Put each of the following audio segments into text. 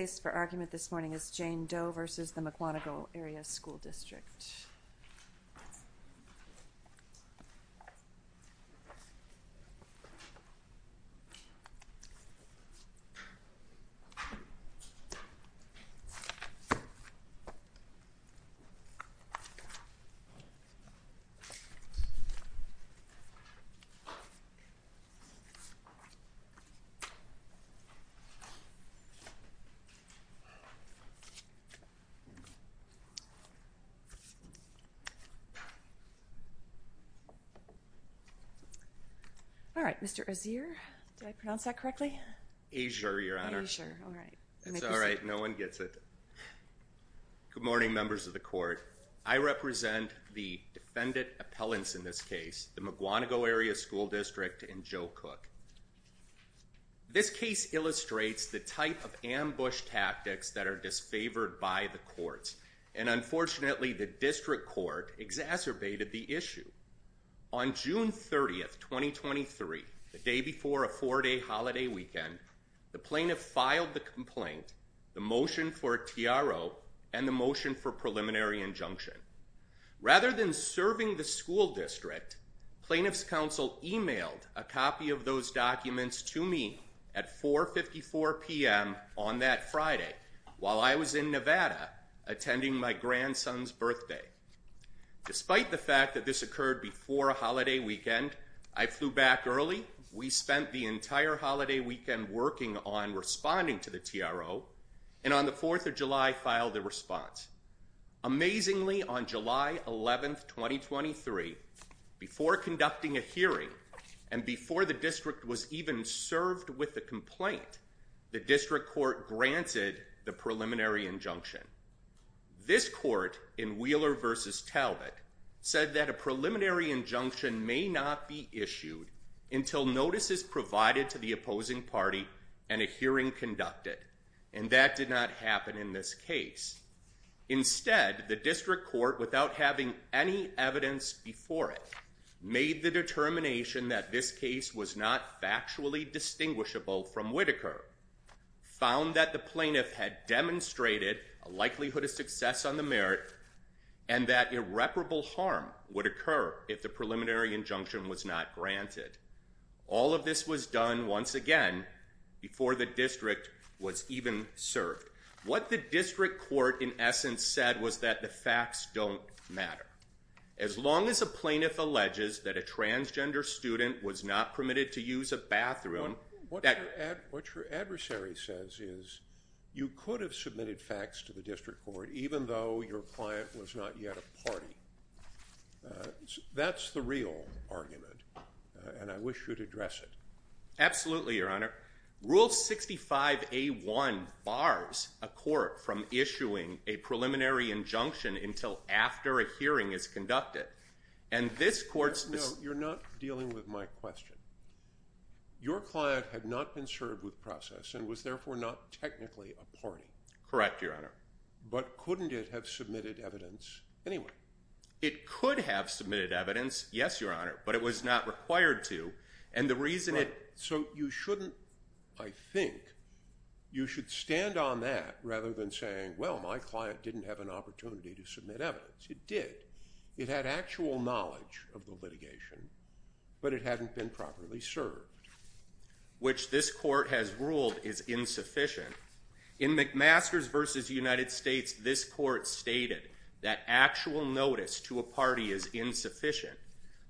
is Jane Doe v. the Mukwonago Area School District. Good morning, members of the court. I represent the defendant appellants in this case, the Mukwonago Area School District and Joe Cook. This case illustrates the type of ambush tactics that are disfavored by the courts and unfortunately the district court exacerbated the issue. On June 30th, 2023, the day before a four-day holiday weekend, the plaintiff filed the complaint, the motion for a TRO, and the motion for preliminary injunction. Rather than serving the school district, plaintiff's counsel emailed a copy of those documents to me at 4.54 p.m. on that Friday while I was in Nevada attending my grandson's birthday. Despite the fact that this occurred before a holiday weekend, I flew back early, we spent the entire holiday weekend working on responding to the TRO, and on the 4th of July filed the response. Amazingly, on July 11th, 2023, before conducting a hearing and before the district was even served with the complaint, the district court granted the preliminary injunction. This court in Wheeler v. Talbot said that a preliminary injunction may not be issued until notice is provided to the opposing party and a hearing conducted, and that did not happen in this case. Instead, the district court, without having any evidence before it, made the determination that this case was not factually distinguishable from Whitaker, found that the plaintiff had demonstrated a likelihood of success on the merit, and that irreparable harm would occur if the preliminary injunction was not granted. All of this was done, once again, before the district was even served. What the district court, in essence, said was that the facts don't matter. As long as a plaintiff alleges that a transgender student was not permitted to use a bathroom... What your adversary says is, you could have submitted facts to the district court even though your client was not yet a party. That's the real argument, and I wish you'd address it. Absolutely, Your Honor. Rule 65A1 bars a court from issuing a preliminary injunction until after a hearing is conducted, and this court's... No, you're not dealing with my question. Your client had not been served with process and was, therefore, not technically a party. Correct, Your Honor. But couldn't it have submitted evidence anyway? It could have submitted evidence, yes, Your Honor, but it was not required to, and the reason it... So you shouldn't, I think, you should stand on that rather than saying, well, my client didn't have an opportunity to submit evidence. It did. It had actual knowledge of the litigation, but it hadn't been properly served. Which this court has ruled is insufficient. In McMasters v. United States, this court stated that actual notice to a party is insufficient.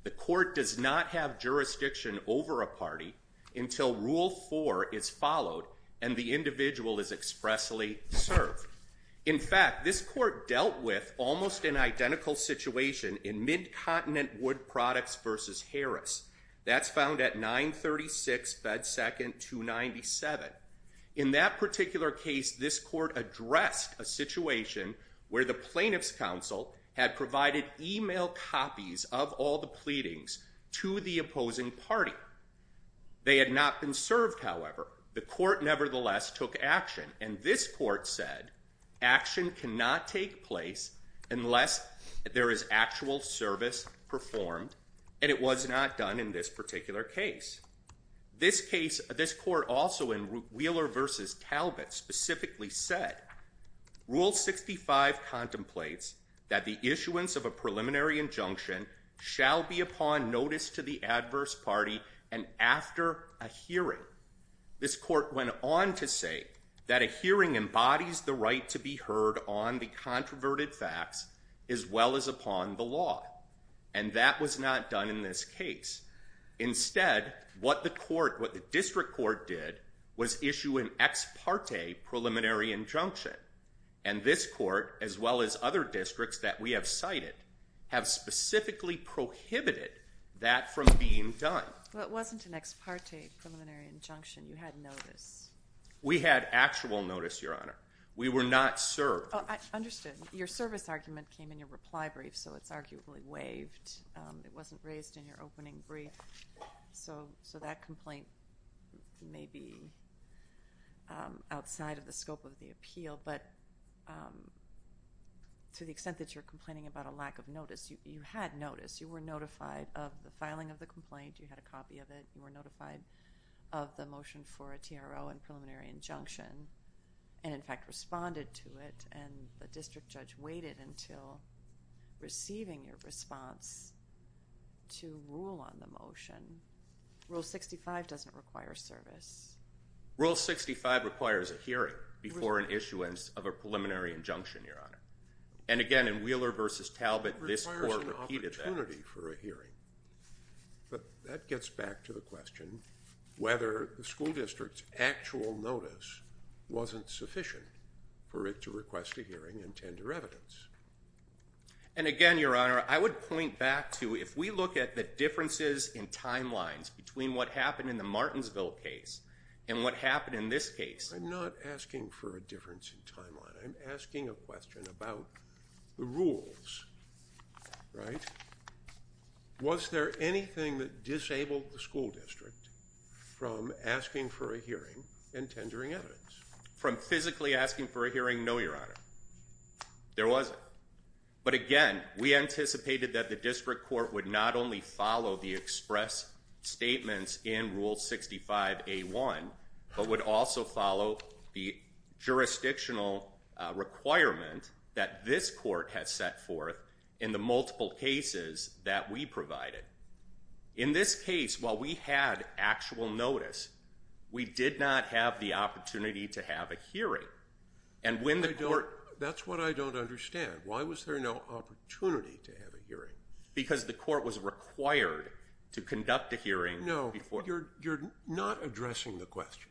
The court does not have jurisdiction over a party until Rule 4 is followed and the individual is expressly served. In fact, this court dealt with almost an identical situation in Mid-Continent Wood Products v. Harris. That's found at 936 Fed 2nd 297. In that particular case, this court addressed a situation where the plaintiff's counsel had provided email copies of all the pleadings to the opposing party. They had not been served, however. The court nevertheless took action, and this court said action cannot take place unless there is actual service performed, and it was not done in this particular case. This case, this court also in Wheeler v. Talbot specifically said, Rule 65 contemplates that the issuance of a preliminary injunction shall be upon notice to the adverse party and after a hearing. This court went on to say that a hearing embodies the right to be heard on the controverted facts as well as upon the law, and that was not done in this case. Instead, what the court, what the district court did was issue an ex parte preliminary injunction, and this court, as well as other districts that we have cited, have specifically prohibited that from being done. Well, it wasn't an ex parte preliminary injunction. You had notice. We had actual notice, Your Honor. We were not served. Oh, I understood. Your service argument came in your reply brief, so it's arguably waived. It wasn't raised in your opening brief. So, that complaint may be outside of the scope of the appeal, but to the extent that you're complaining about a lack of notice, you had notice. You were notified of the filing of the complaint, you had a copy of it, you were notified of the motion for a TRO and preliminary injunction, and in fact, responded to it, and the district court responded to rule on the motion. Rule 65 doesn't require service. Rule 65 requires a hearing before an issuance of a preliminary injunction, Your Honor. And again, in Wheeler v. Talbot, this court repeated that. It requires an opportunity for a hearing, but that gets back to the question whether the school district's actual notice wasn't sufficient for it to request a hearing and tender evidence. And again, Your Honor, I would point back to, if we look at the differences in timelines between what happened in the Martinsville case and what happened in this case. I'm not asking for a difference in timeline. I'm asking a question about the rules, right? Was there anything that disabled the school district from asking for a hearing and tendering evidence? From physically asking for a hearing, no, Your Honor. There wasn't. But again, we anticipated that the district court would not only follow the express statements in Rule 65A1, but would also follow the jurisdictional requirement that this court has set forth in the multiple cases that we provided. In this case, while we had actual notice, we did not have the opportunity to have a hearing. That's what I don't understand. Why was there no opportunity to have a hearing? Because the court was required to conduct a hearing before. No, you're not addressing the question.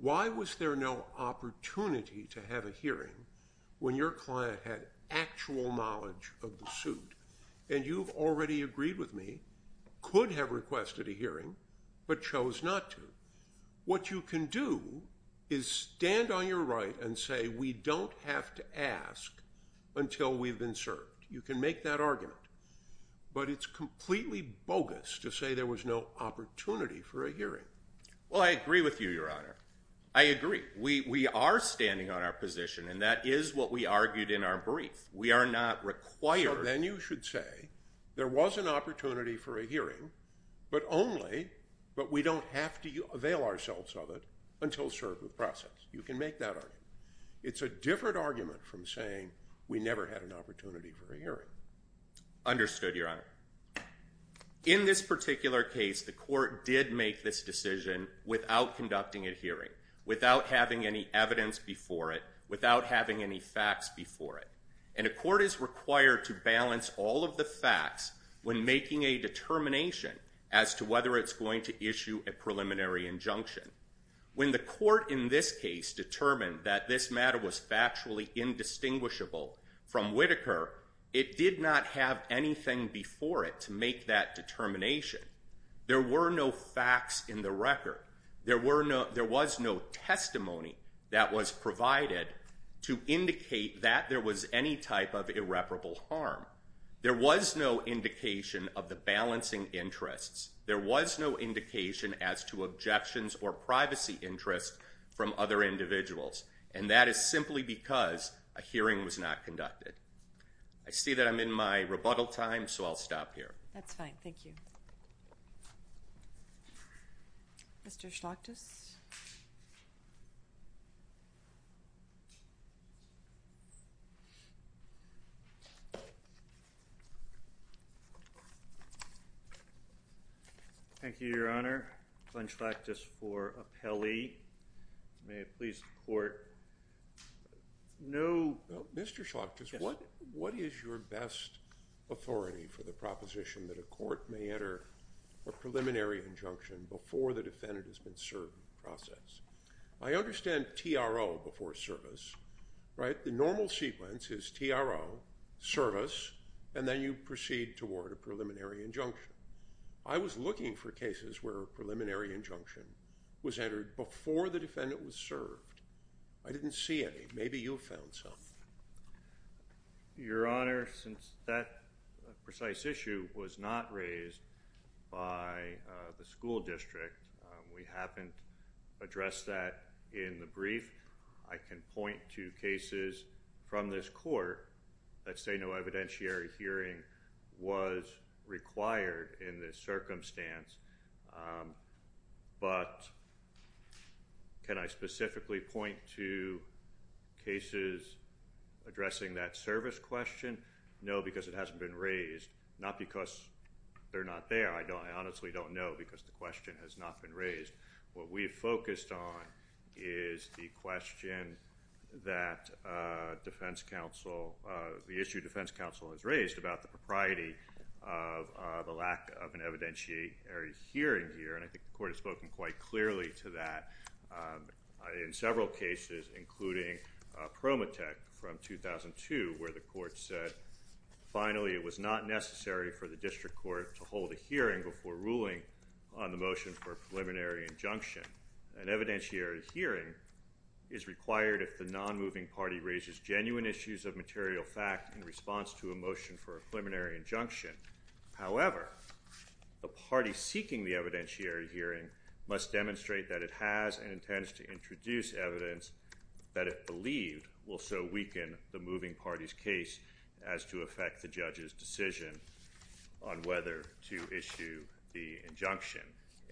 Why was there no opportunity to have a hearing when your client had actual knowledge of the suit and you've already agreed with me, could have requested a hearing, but chose not to? What you can do is stand on your right and say, we don't have to ask until we've been served. You can make that argument, but it's completely bogus to say there was no opportunity for a hearing. Well, I agree with you, Your Honor. I agree. We are standing on our position, and that is what we argued in our brief. We are not required. So then you should say, there was an opportunity for a hearing, but only, but we don't have to avail ourselves of it until served with process. You can make that argument. It's a different argument from saying we never had an opportunity for a hearing. Understood, Your Honor. In this particular case, the court did make this decision without conducting a hearing, without having any evidence before it, without having any facts before it. And a court is required to balance all of the facts when making a determination as to whether it's going to issue a preliminary injunction. When the court in this case determined that this matter was factually indistinguishable from Whitaker, it did not have anything before it to make that determination. There were no facts in the record. There was no testimony that was provided to indicate that there was any type of irreparable harm. There was no indication of the balancing interests. There was no indication as to objections or privacy interests from other individuals. And that is simply because a hearing was not conducted. I see that I'm in my rebuttal time, so I'll stop here. That's fine. Thank you. Mr. Schlachtus. Thank you, Your Honor. Glenn Schlachtus for appellee. May I please have the court? No. Mr. Schlachtus, what is your best authority for the proposition that a court may enter a preliminary injunction before the defendant has been served in the process? I understand TRO before service, right? The normal sequence is TRO, service, and then you proceed toward a preliminary injunction. I was looking for cases where a preliminary injunction was entered before the defendant was served. I didn't see any. Maybe you found some. Your Honor, since that precise issue was not raised by the school district, we haven't addressed that in the brief. I can point to cases from this court that say no evidentiary hearing was required in this circumstance, but can I specifically point to cases addressing that service question? No, because it hasn't been raised. Not because they're not there. I honestly don't know because the question has not been raised. What we focused on is the question that defense counsel, the issue defense counsel has raised about the propriety of the lack of an evidentiary hearing here, and I think the court has spoken quite clearly to that in several cases, including Promotech from 2002, where the court said finally it was not necessary for the district court to hold a hearing before ruling on the motion for a preliminary injunction. An evidentiary hearing is required if the non-moving party raises genuine issues of However, the party seeking the evidentiary hearing must demonstrate that it has and intends to introduce evidence that it believed will so weaken the moving party's case as to affect the judge's decision on whether to issue the injunction.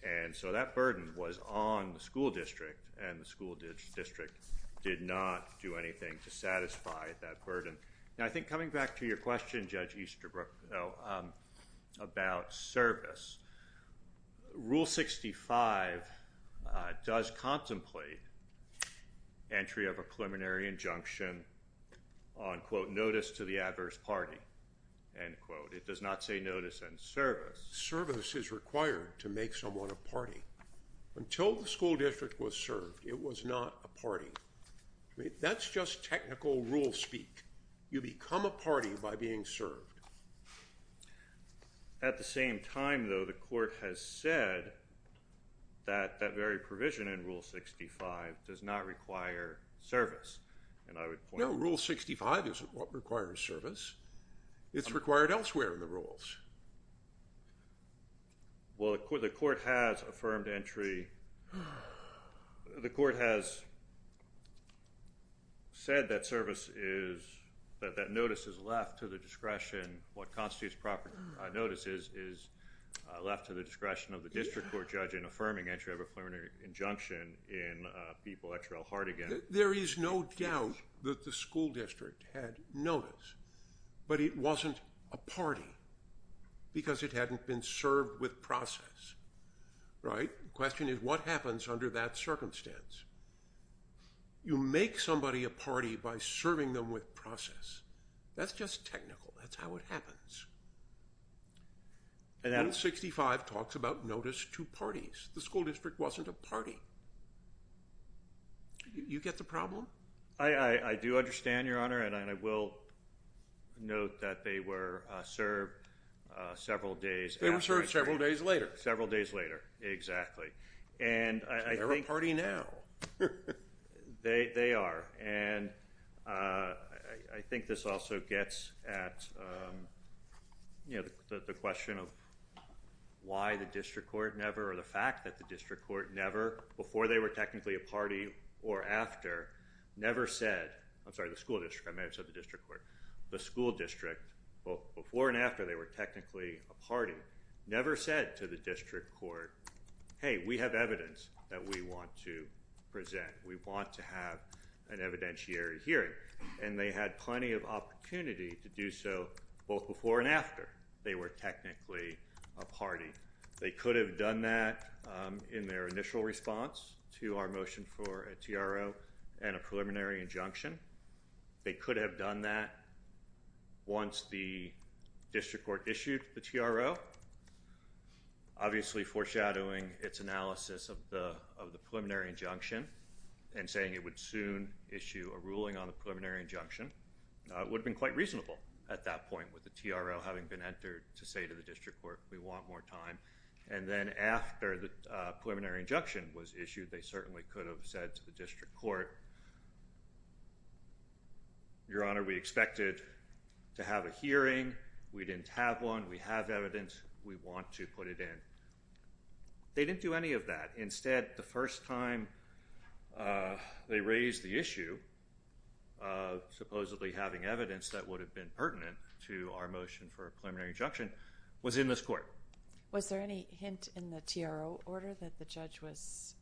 And so that burden was on the school district, and the school district did not do anything to satisfy that burden. Now, I think coming back to your question, Judge Easterbrook, about service, Rule 65 does contemplate entry of a preliminary injunction on, quote, notice to the adverse party, end quote. It does not say notice and service. Service is required to make someone a party. Until the school district was served, it was not a party. That's just technical rule speak. You become a party by being served. At the same time, though, the court has said that that very provision in Rule 65 does not require service. And I would point out- No, Rule 65 isn't what requires service. It's required elsewhere in the rules. Well, the court has affirmed entry- The court has said that service is- that that notice is left to the discretion, what constitutes proper notices, is left to the discretion of the district court judge in affirming entry of a preliminary injunction in Pete Boettcher L. Hartigan. There is no doubt that the school district had notice, but it wasn't a party because it hadn't been served with process, right? The question is, what happens under that circumstance? You make somebody a party by serving them with process. That's just technical. That's how it happens. And Rule 65 talks about notice to parties. The school district wasn't a party. You get the problem? I do understand, Your Honor, and I will note that they were served several days after- They were served several days later. Several days later. Exactly. And I think- They're a party now. They are. And I think this also gets at, you know, the question of why the district court never, or the fact that the district court never, before they were technically a party or after, never said- I'm sorry, the school district, I may have said the district court. The school district, both before and after they were technically a party, never said to the district court, hey, we have evidence that we want to present. We want to have an evidentiary hearing. And they had plenty of opportunity to do so both before and after they were technically a party. They could have done that in their initial response to our motion for a TRO and a preliminary injunction. They could have done that once the district court issued the TRO. Obviously foreshadowing its analysis of the preliminary injunction and saying it would soon issue a ruling on the preliminary injunction would have been quite reasonable at that point with the TRO having been entered to say to the district court, we want more time. And then after the preliminary injunction was issued, they certainly could have said to the district court, your honor, we expected to have a hearing. We didn't have one. We have evidence. We want to put it in. They didn't do any of that. Instead, the first time they raised the issue of supposedly having evidence that would have been pertinent to our motion for a preliminary injunction was in this court. Was there any hint in the TRO order that the judge was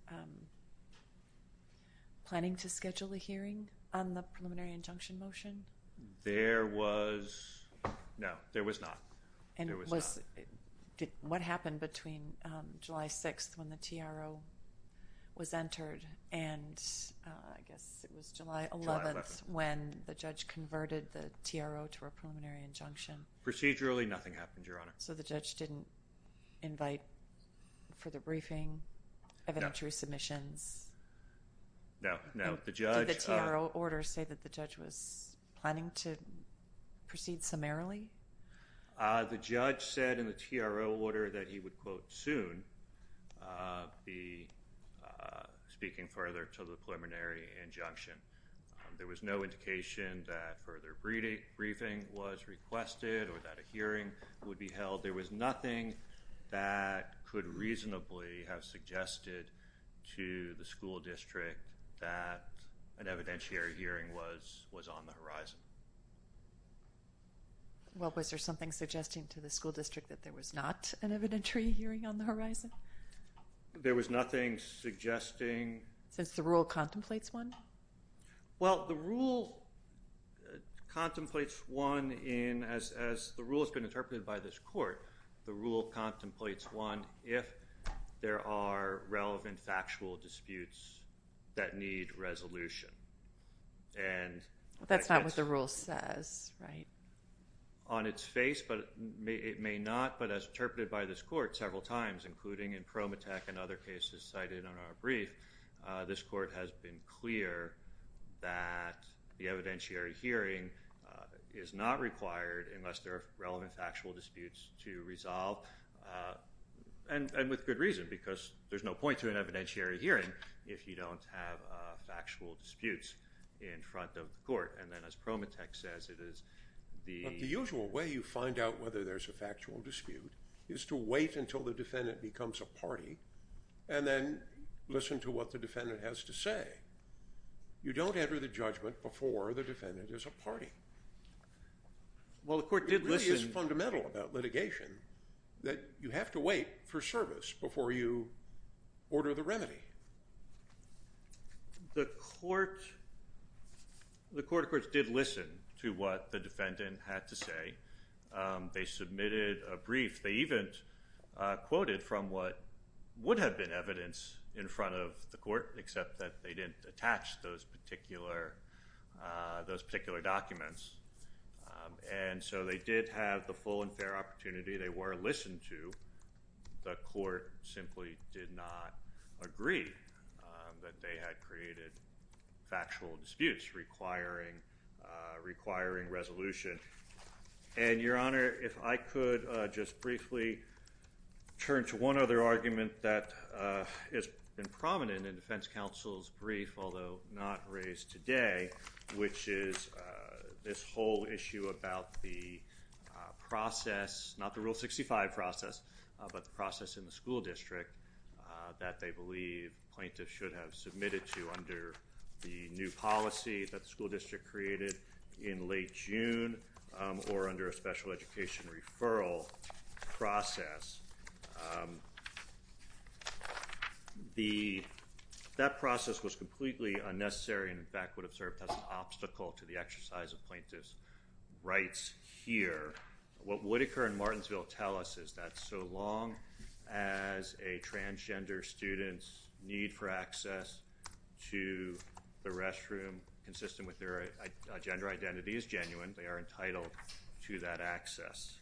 planning to schedule a hearing on the preliminary injunction motion? There was no. There was not. What happened between July 6th when the TRO was entered and I guess it was July 11th when the judge converted the TRO to a preliminary injunction? Procedurally, nothing happened, your honor. So the judge didn't invite for the briefing, evidentiary submissions? No. No. Did the TRO order say that the judge was planning to proceed summarily? The judge said in the TRO order that he would, quote, soon be speaking further to the preliminary injunction. There was no indication that further briefing was requested or that a hearing would be held. There was nothing that could reasonably have suggested to the school district that an evidentiary hearing was on the horizon. Well, was there something suggesting to the school district that there was not an evidentiary hearing on the horizon? There was nothing suggesting... Since the rule contemplates one? Well, the rule contemplates one in, as the rule has been interpreted by this court, the rule contemplates one if there are relevant factual disputes that need resolution. That's not what the rule says, right? On its face, but it may not, but as interpreted by this court several times, including in other cases cited in our brief, this court has been clear that the evidentiary hearing is not required unless there are relevant factual disputes to resolve, and with good reason because there's no point to an evidentiary hearing if you don't have factual disputes in front of the court, and then as Prometex says, it is the... But the usual way you find out whether there's a factual dispute is to wait until the defendant becomes a party, and then listen to what the defendant has to say. You don't enter the judgment before the defendant is a party. Well, the court did listen... It really is fundamental about litigation that you have to wait for service before you order the remedy. The court... The court, of course, did listen to what the defendant had to say. They submitted a brief. They even quoted from what would have been evidence in front of the court, except that they didn't attach those particular documents, and so they did have the full and fair opportunity. They were listened to. The court simply did not agree that they had created factual disputes requiring resolution, and, Your Honor, if I could just briefly turn to one other argument that has been prominent in defense counsel's brief, although not raised today, which is this whole issue about the process, not the Rule 65 process, but the process in the school district that they believe plaintiffs should have submitted to under the new policy that the school district created in late June or under a special education referral process, that process was completely unnecessary and, in fact, would have served as an obstacle to the exercise of plaintiff's rights here. What Whitaker and Martensville tell us is that so long as a transgender student's need for access to the restroom consistent with their gender identity is genuine, they are entitled to that access.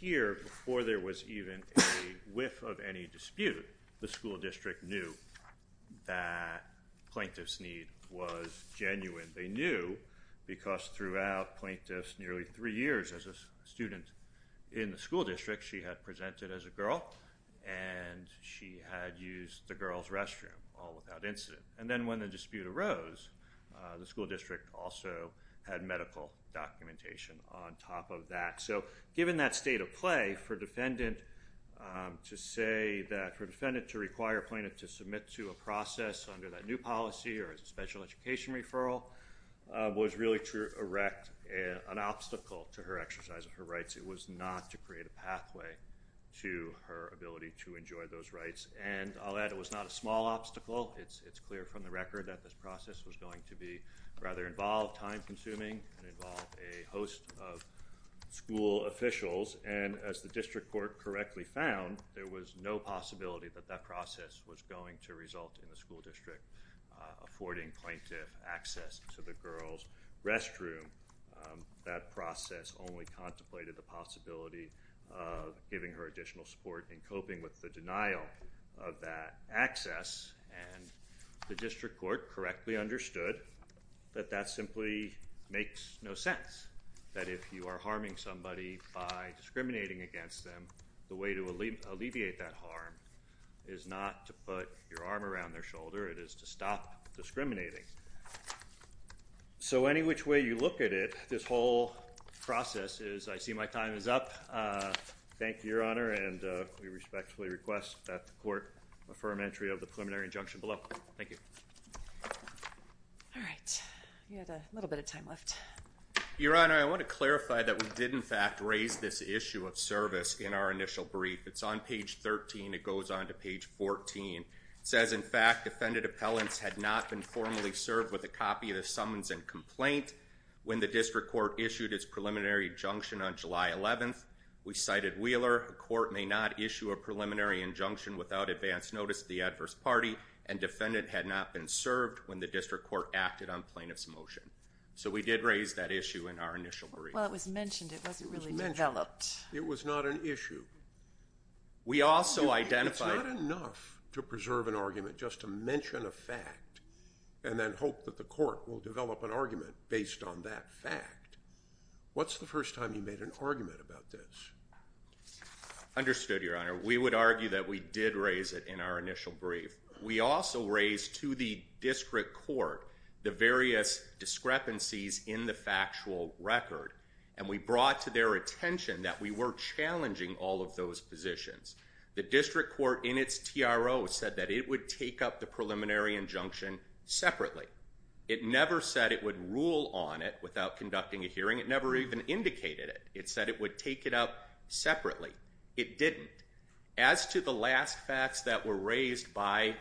Here before there was even a whiff of any dispute, the school district knew that plaintiff's need was genuine. They knew because throughout plaintiff's nearly three years as a student in the school district, she had presented as a girl, and she had used the girl's restroom all without incident. And then when the dispute arose, the school district also had medical documentation on top of that. So given that state of play, for defendant to say that, for defendant to require plaintiff to submit to a process under that new policy or as a special education referral was really to erect an obstacle to her exercise of her rights. It was not to create a pathway to her ability to enjoy those rights. And I'll add, it was not a small obstacle. It's clear from the record that this process was going to be rather involved, time-consuming, and involve a host of school officials. And as the district court correctly found, there was no possibility that that process was going to result in the school district affording plaintiff access to the girl's restroom. That process only contemplated the possibility of giving her additional support in coping with the denial of that access. And the district court correctly understood that that simply makes no sense. That if you are harming somebody by discriminating against them, the way to alleviate that harm is not to put your arm around their shoulder, it is to stop discriminating. So, any which way you look at it, this whole process is, I see my time is up. Thank you, Your Honor. And we respectfully request that the court affirm entry of the preliminary injunction below. Thank you. All right. You had a little bit of time left. Your Honor, I want to clarify that we did, in fact, raise this issue of service in our initial brief. It's on page 13. It goes on to page 14. It says, in fact, defendant appellants had not been formally served with a copy of the summons and complaint when the district court issued its preliminary injunction on July 11th. We cited Wheeler. A court may not issue a preliminary injunction without advance notice to the adverse party, and defendant had not been served when the district court acted on plaintiff's motion. So we did raise that issue in our initial brief. Well, it was mentioned. It wasn't really developed. It was mentioned. It was not an issue. We also identified— You're not allowed to reserve an argument just to mention a fact and then hope that the court will develop an argument based on that fact. What's the first time you made an argument about this? Understood, Your Honor. We would argue that we did raise it in our initial brief. We also raised to the district court the various discrepancies in the factual record. And we brought to their attention that we were challenging all of those positions. The district court in its TRO said that it would take up the preliminary injunction separately. It never said it would rule on it without conducting a hearing. It never even indicated it. It said it would take it up separately. It didn't. As to the last facts that were raised by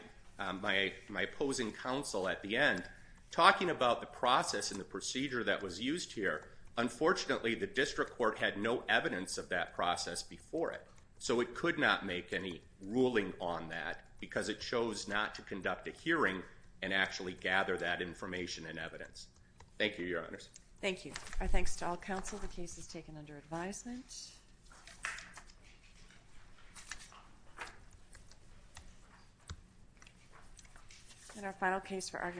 my opposing counsel at the end, talking about the process and the procedure that was used here, unfortunately the district court had no evidence of that process before it. So it could not make any ruling on that because it chose not to conduct a hearing and actually gather that information and evidence. Thank you, Your Honors. Thank you. Our thanks to all counsel. The case is taken under advisement. And our final case for argument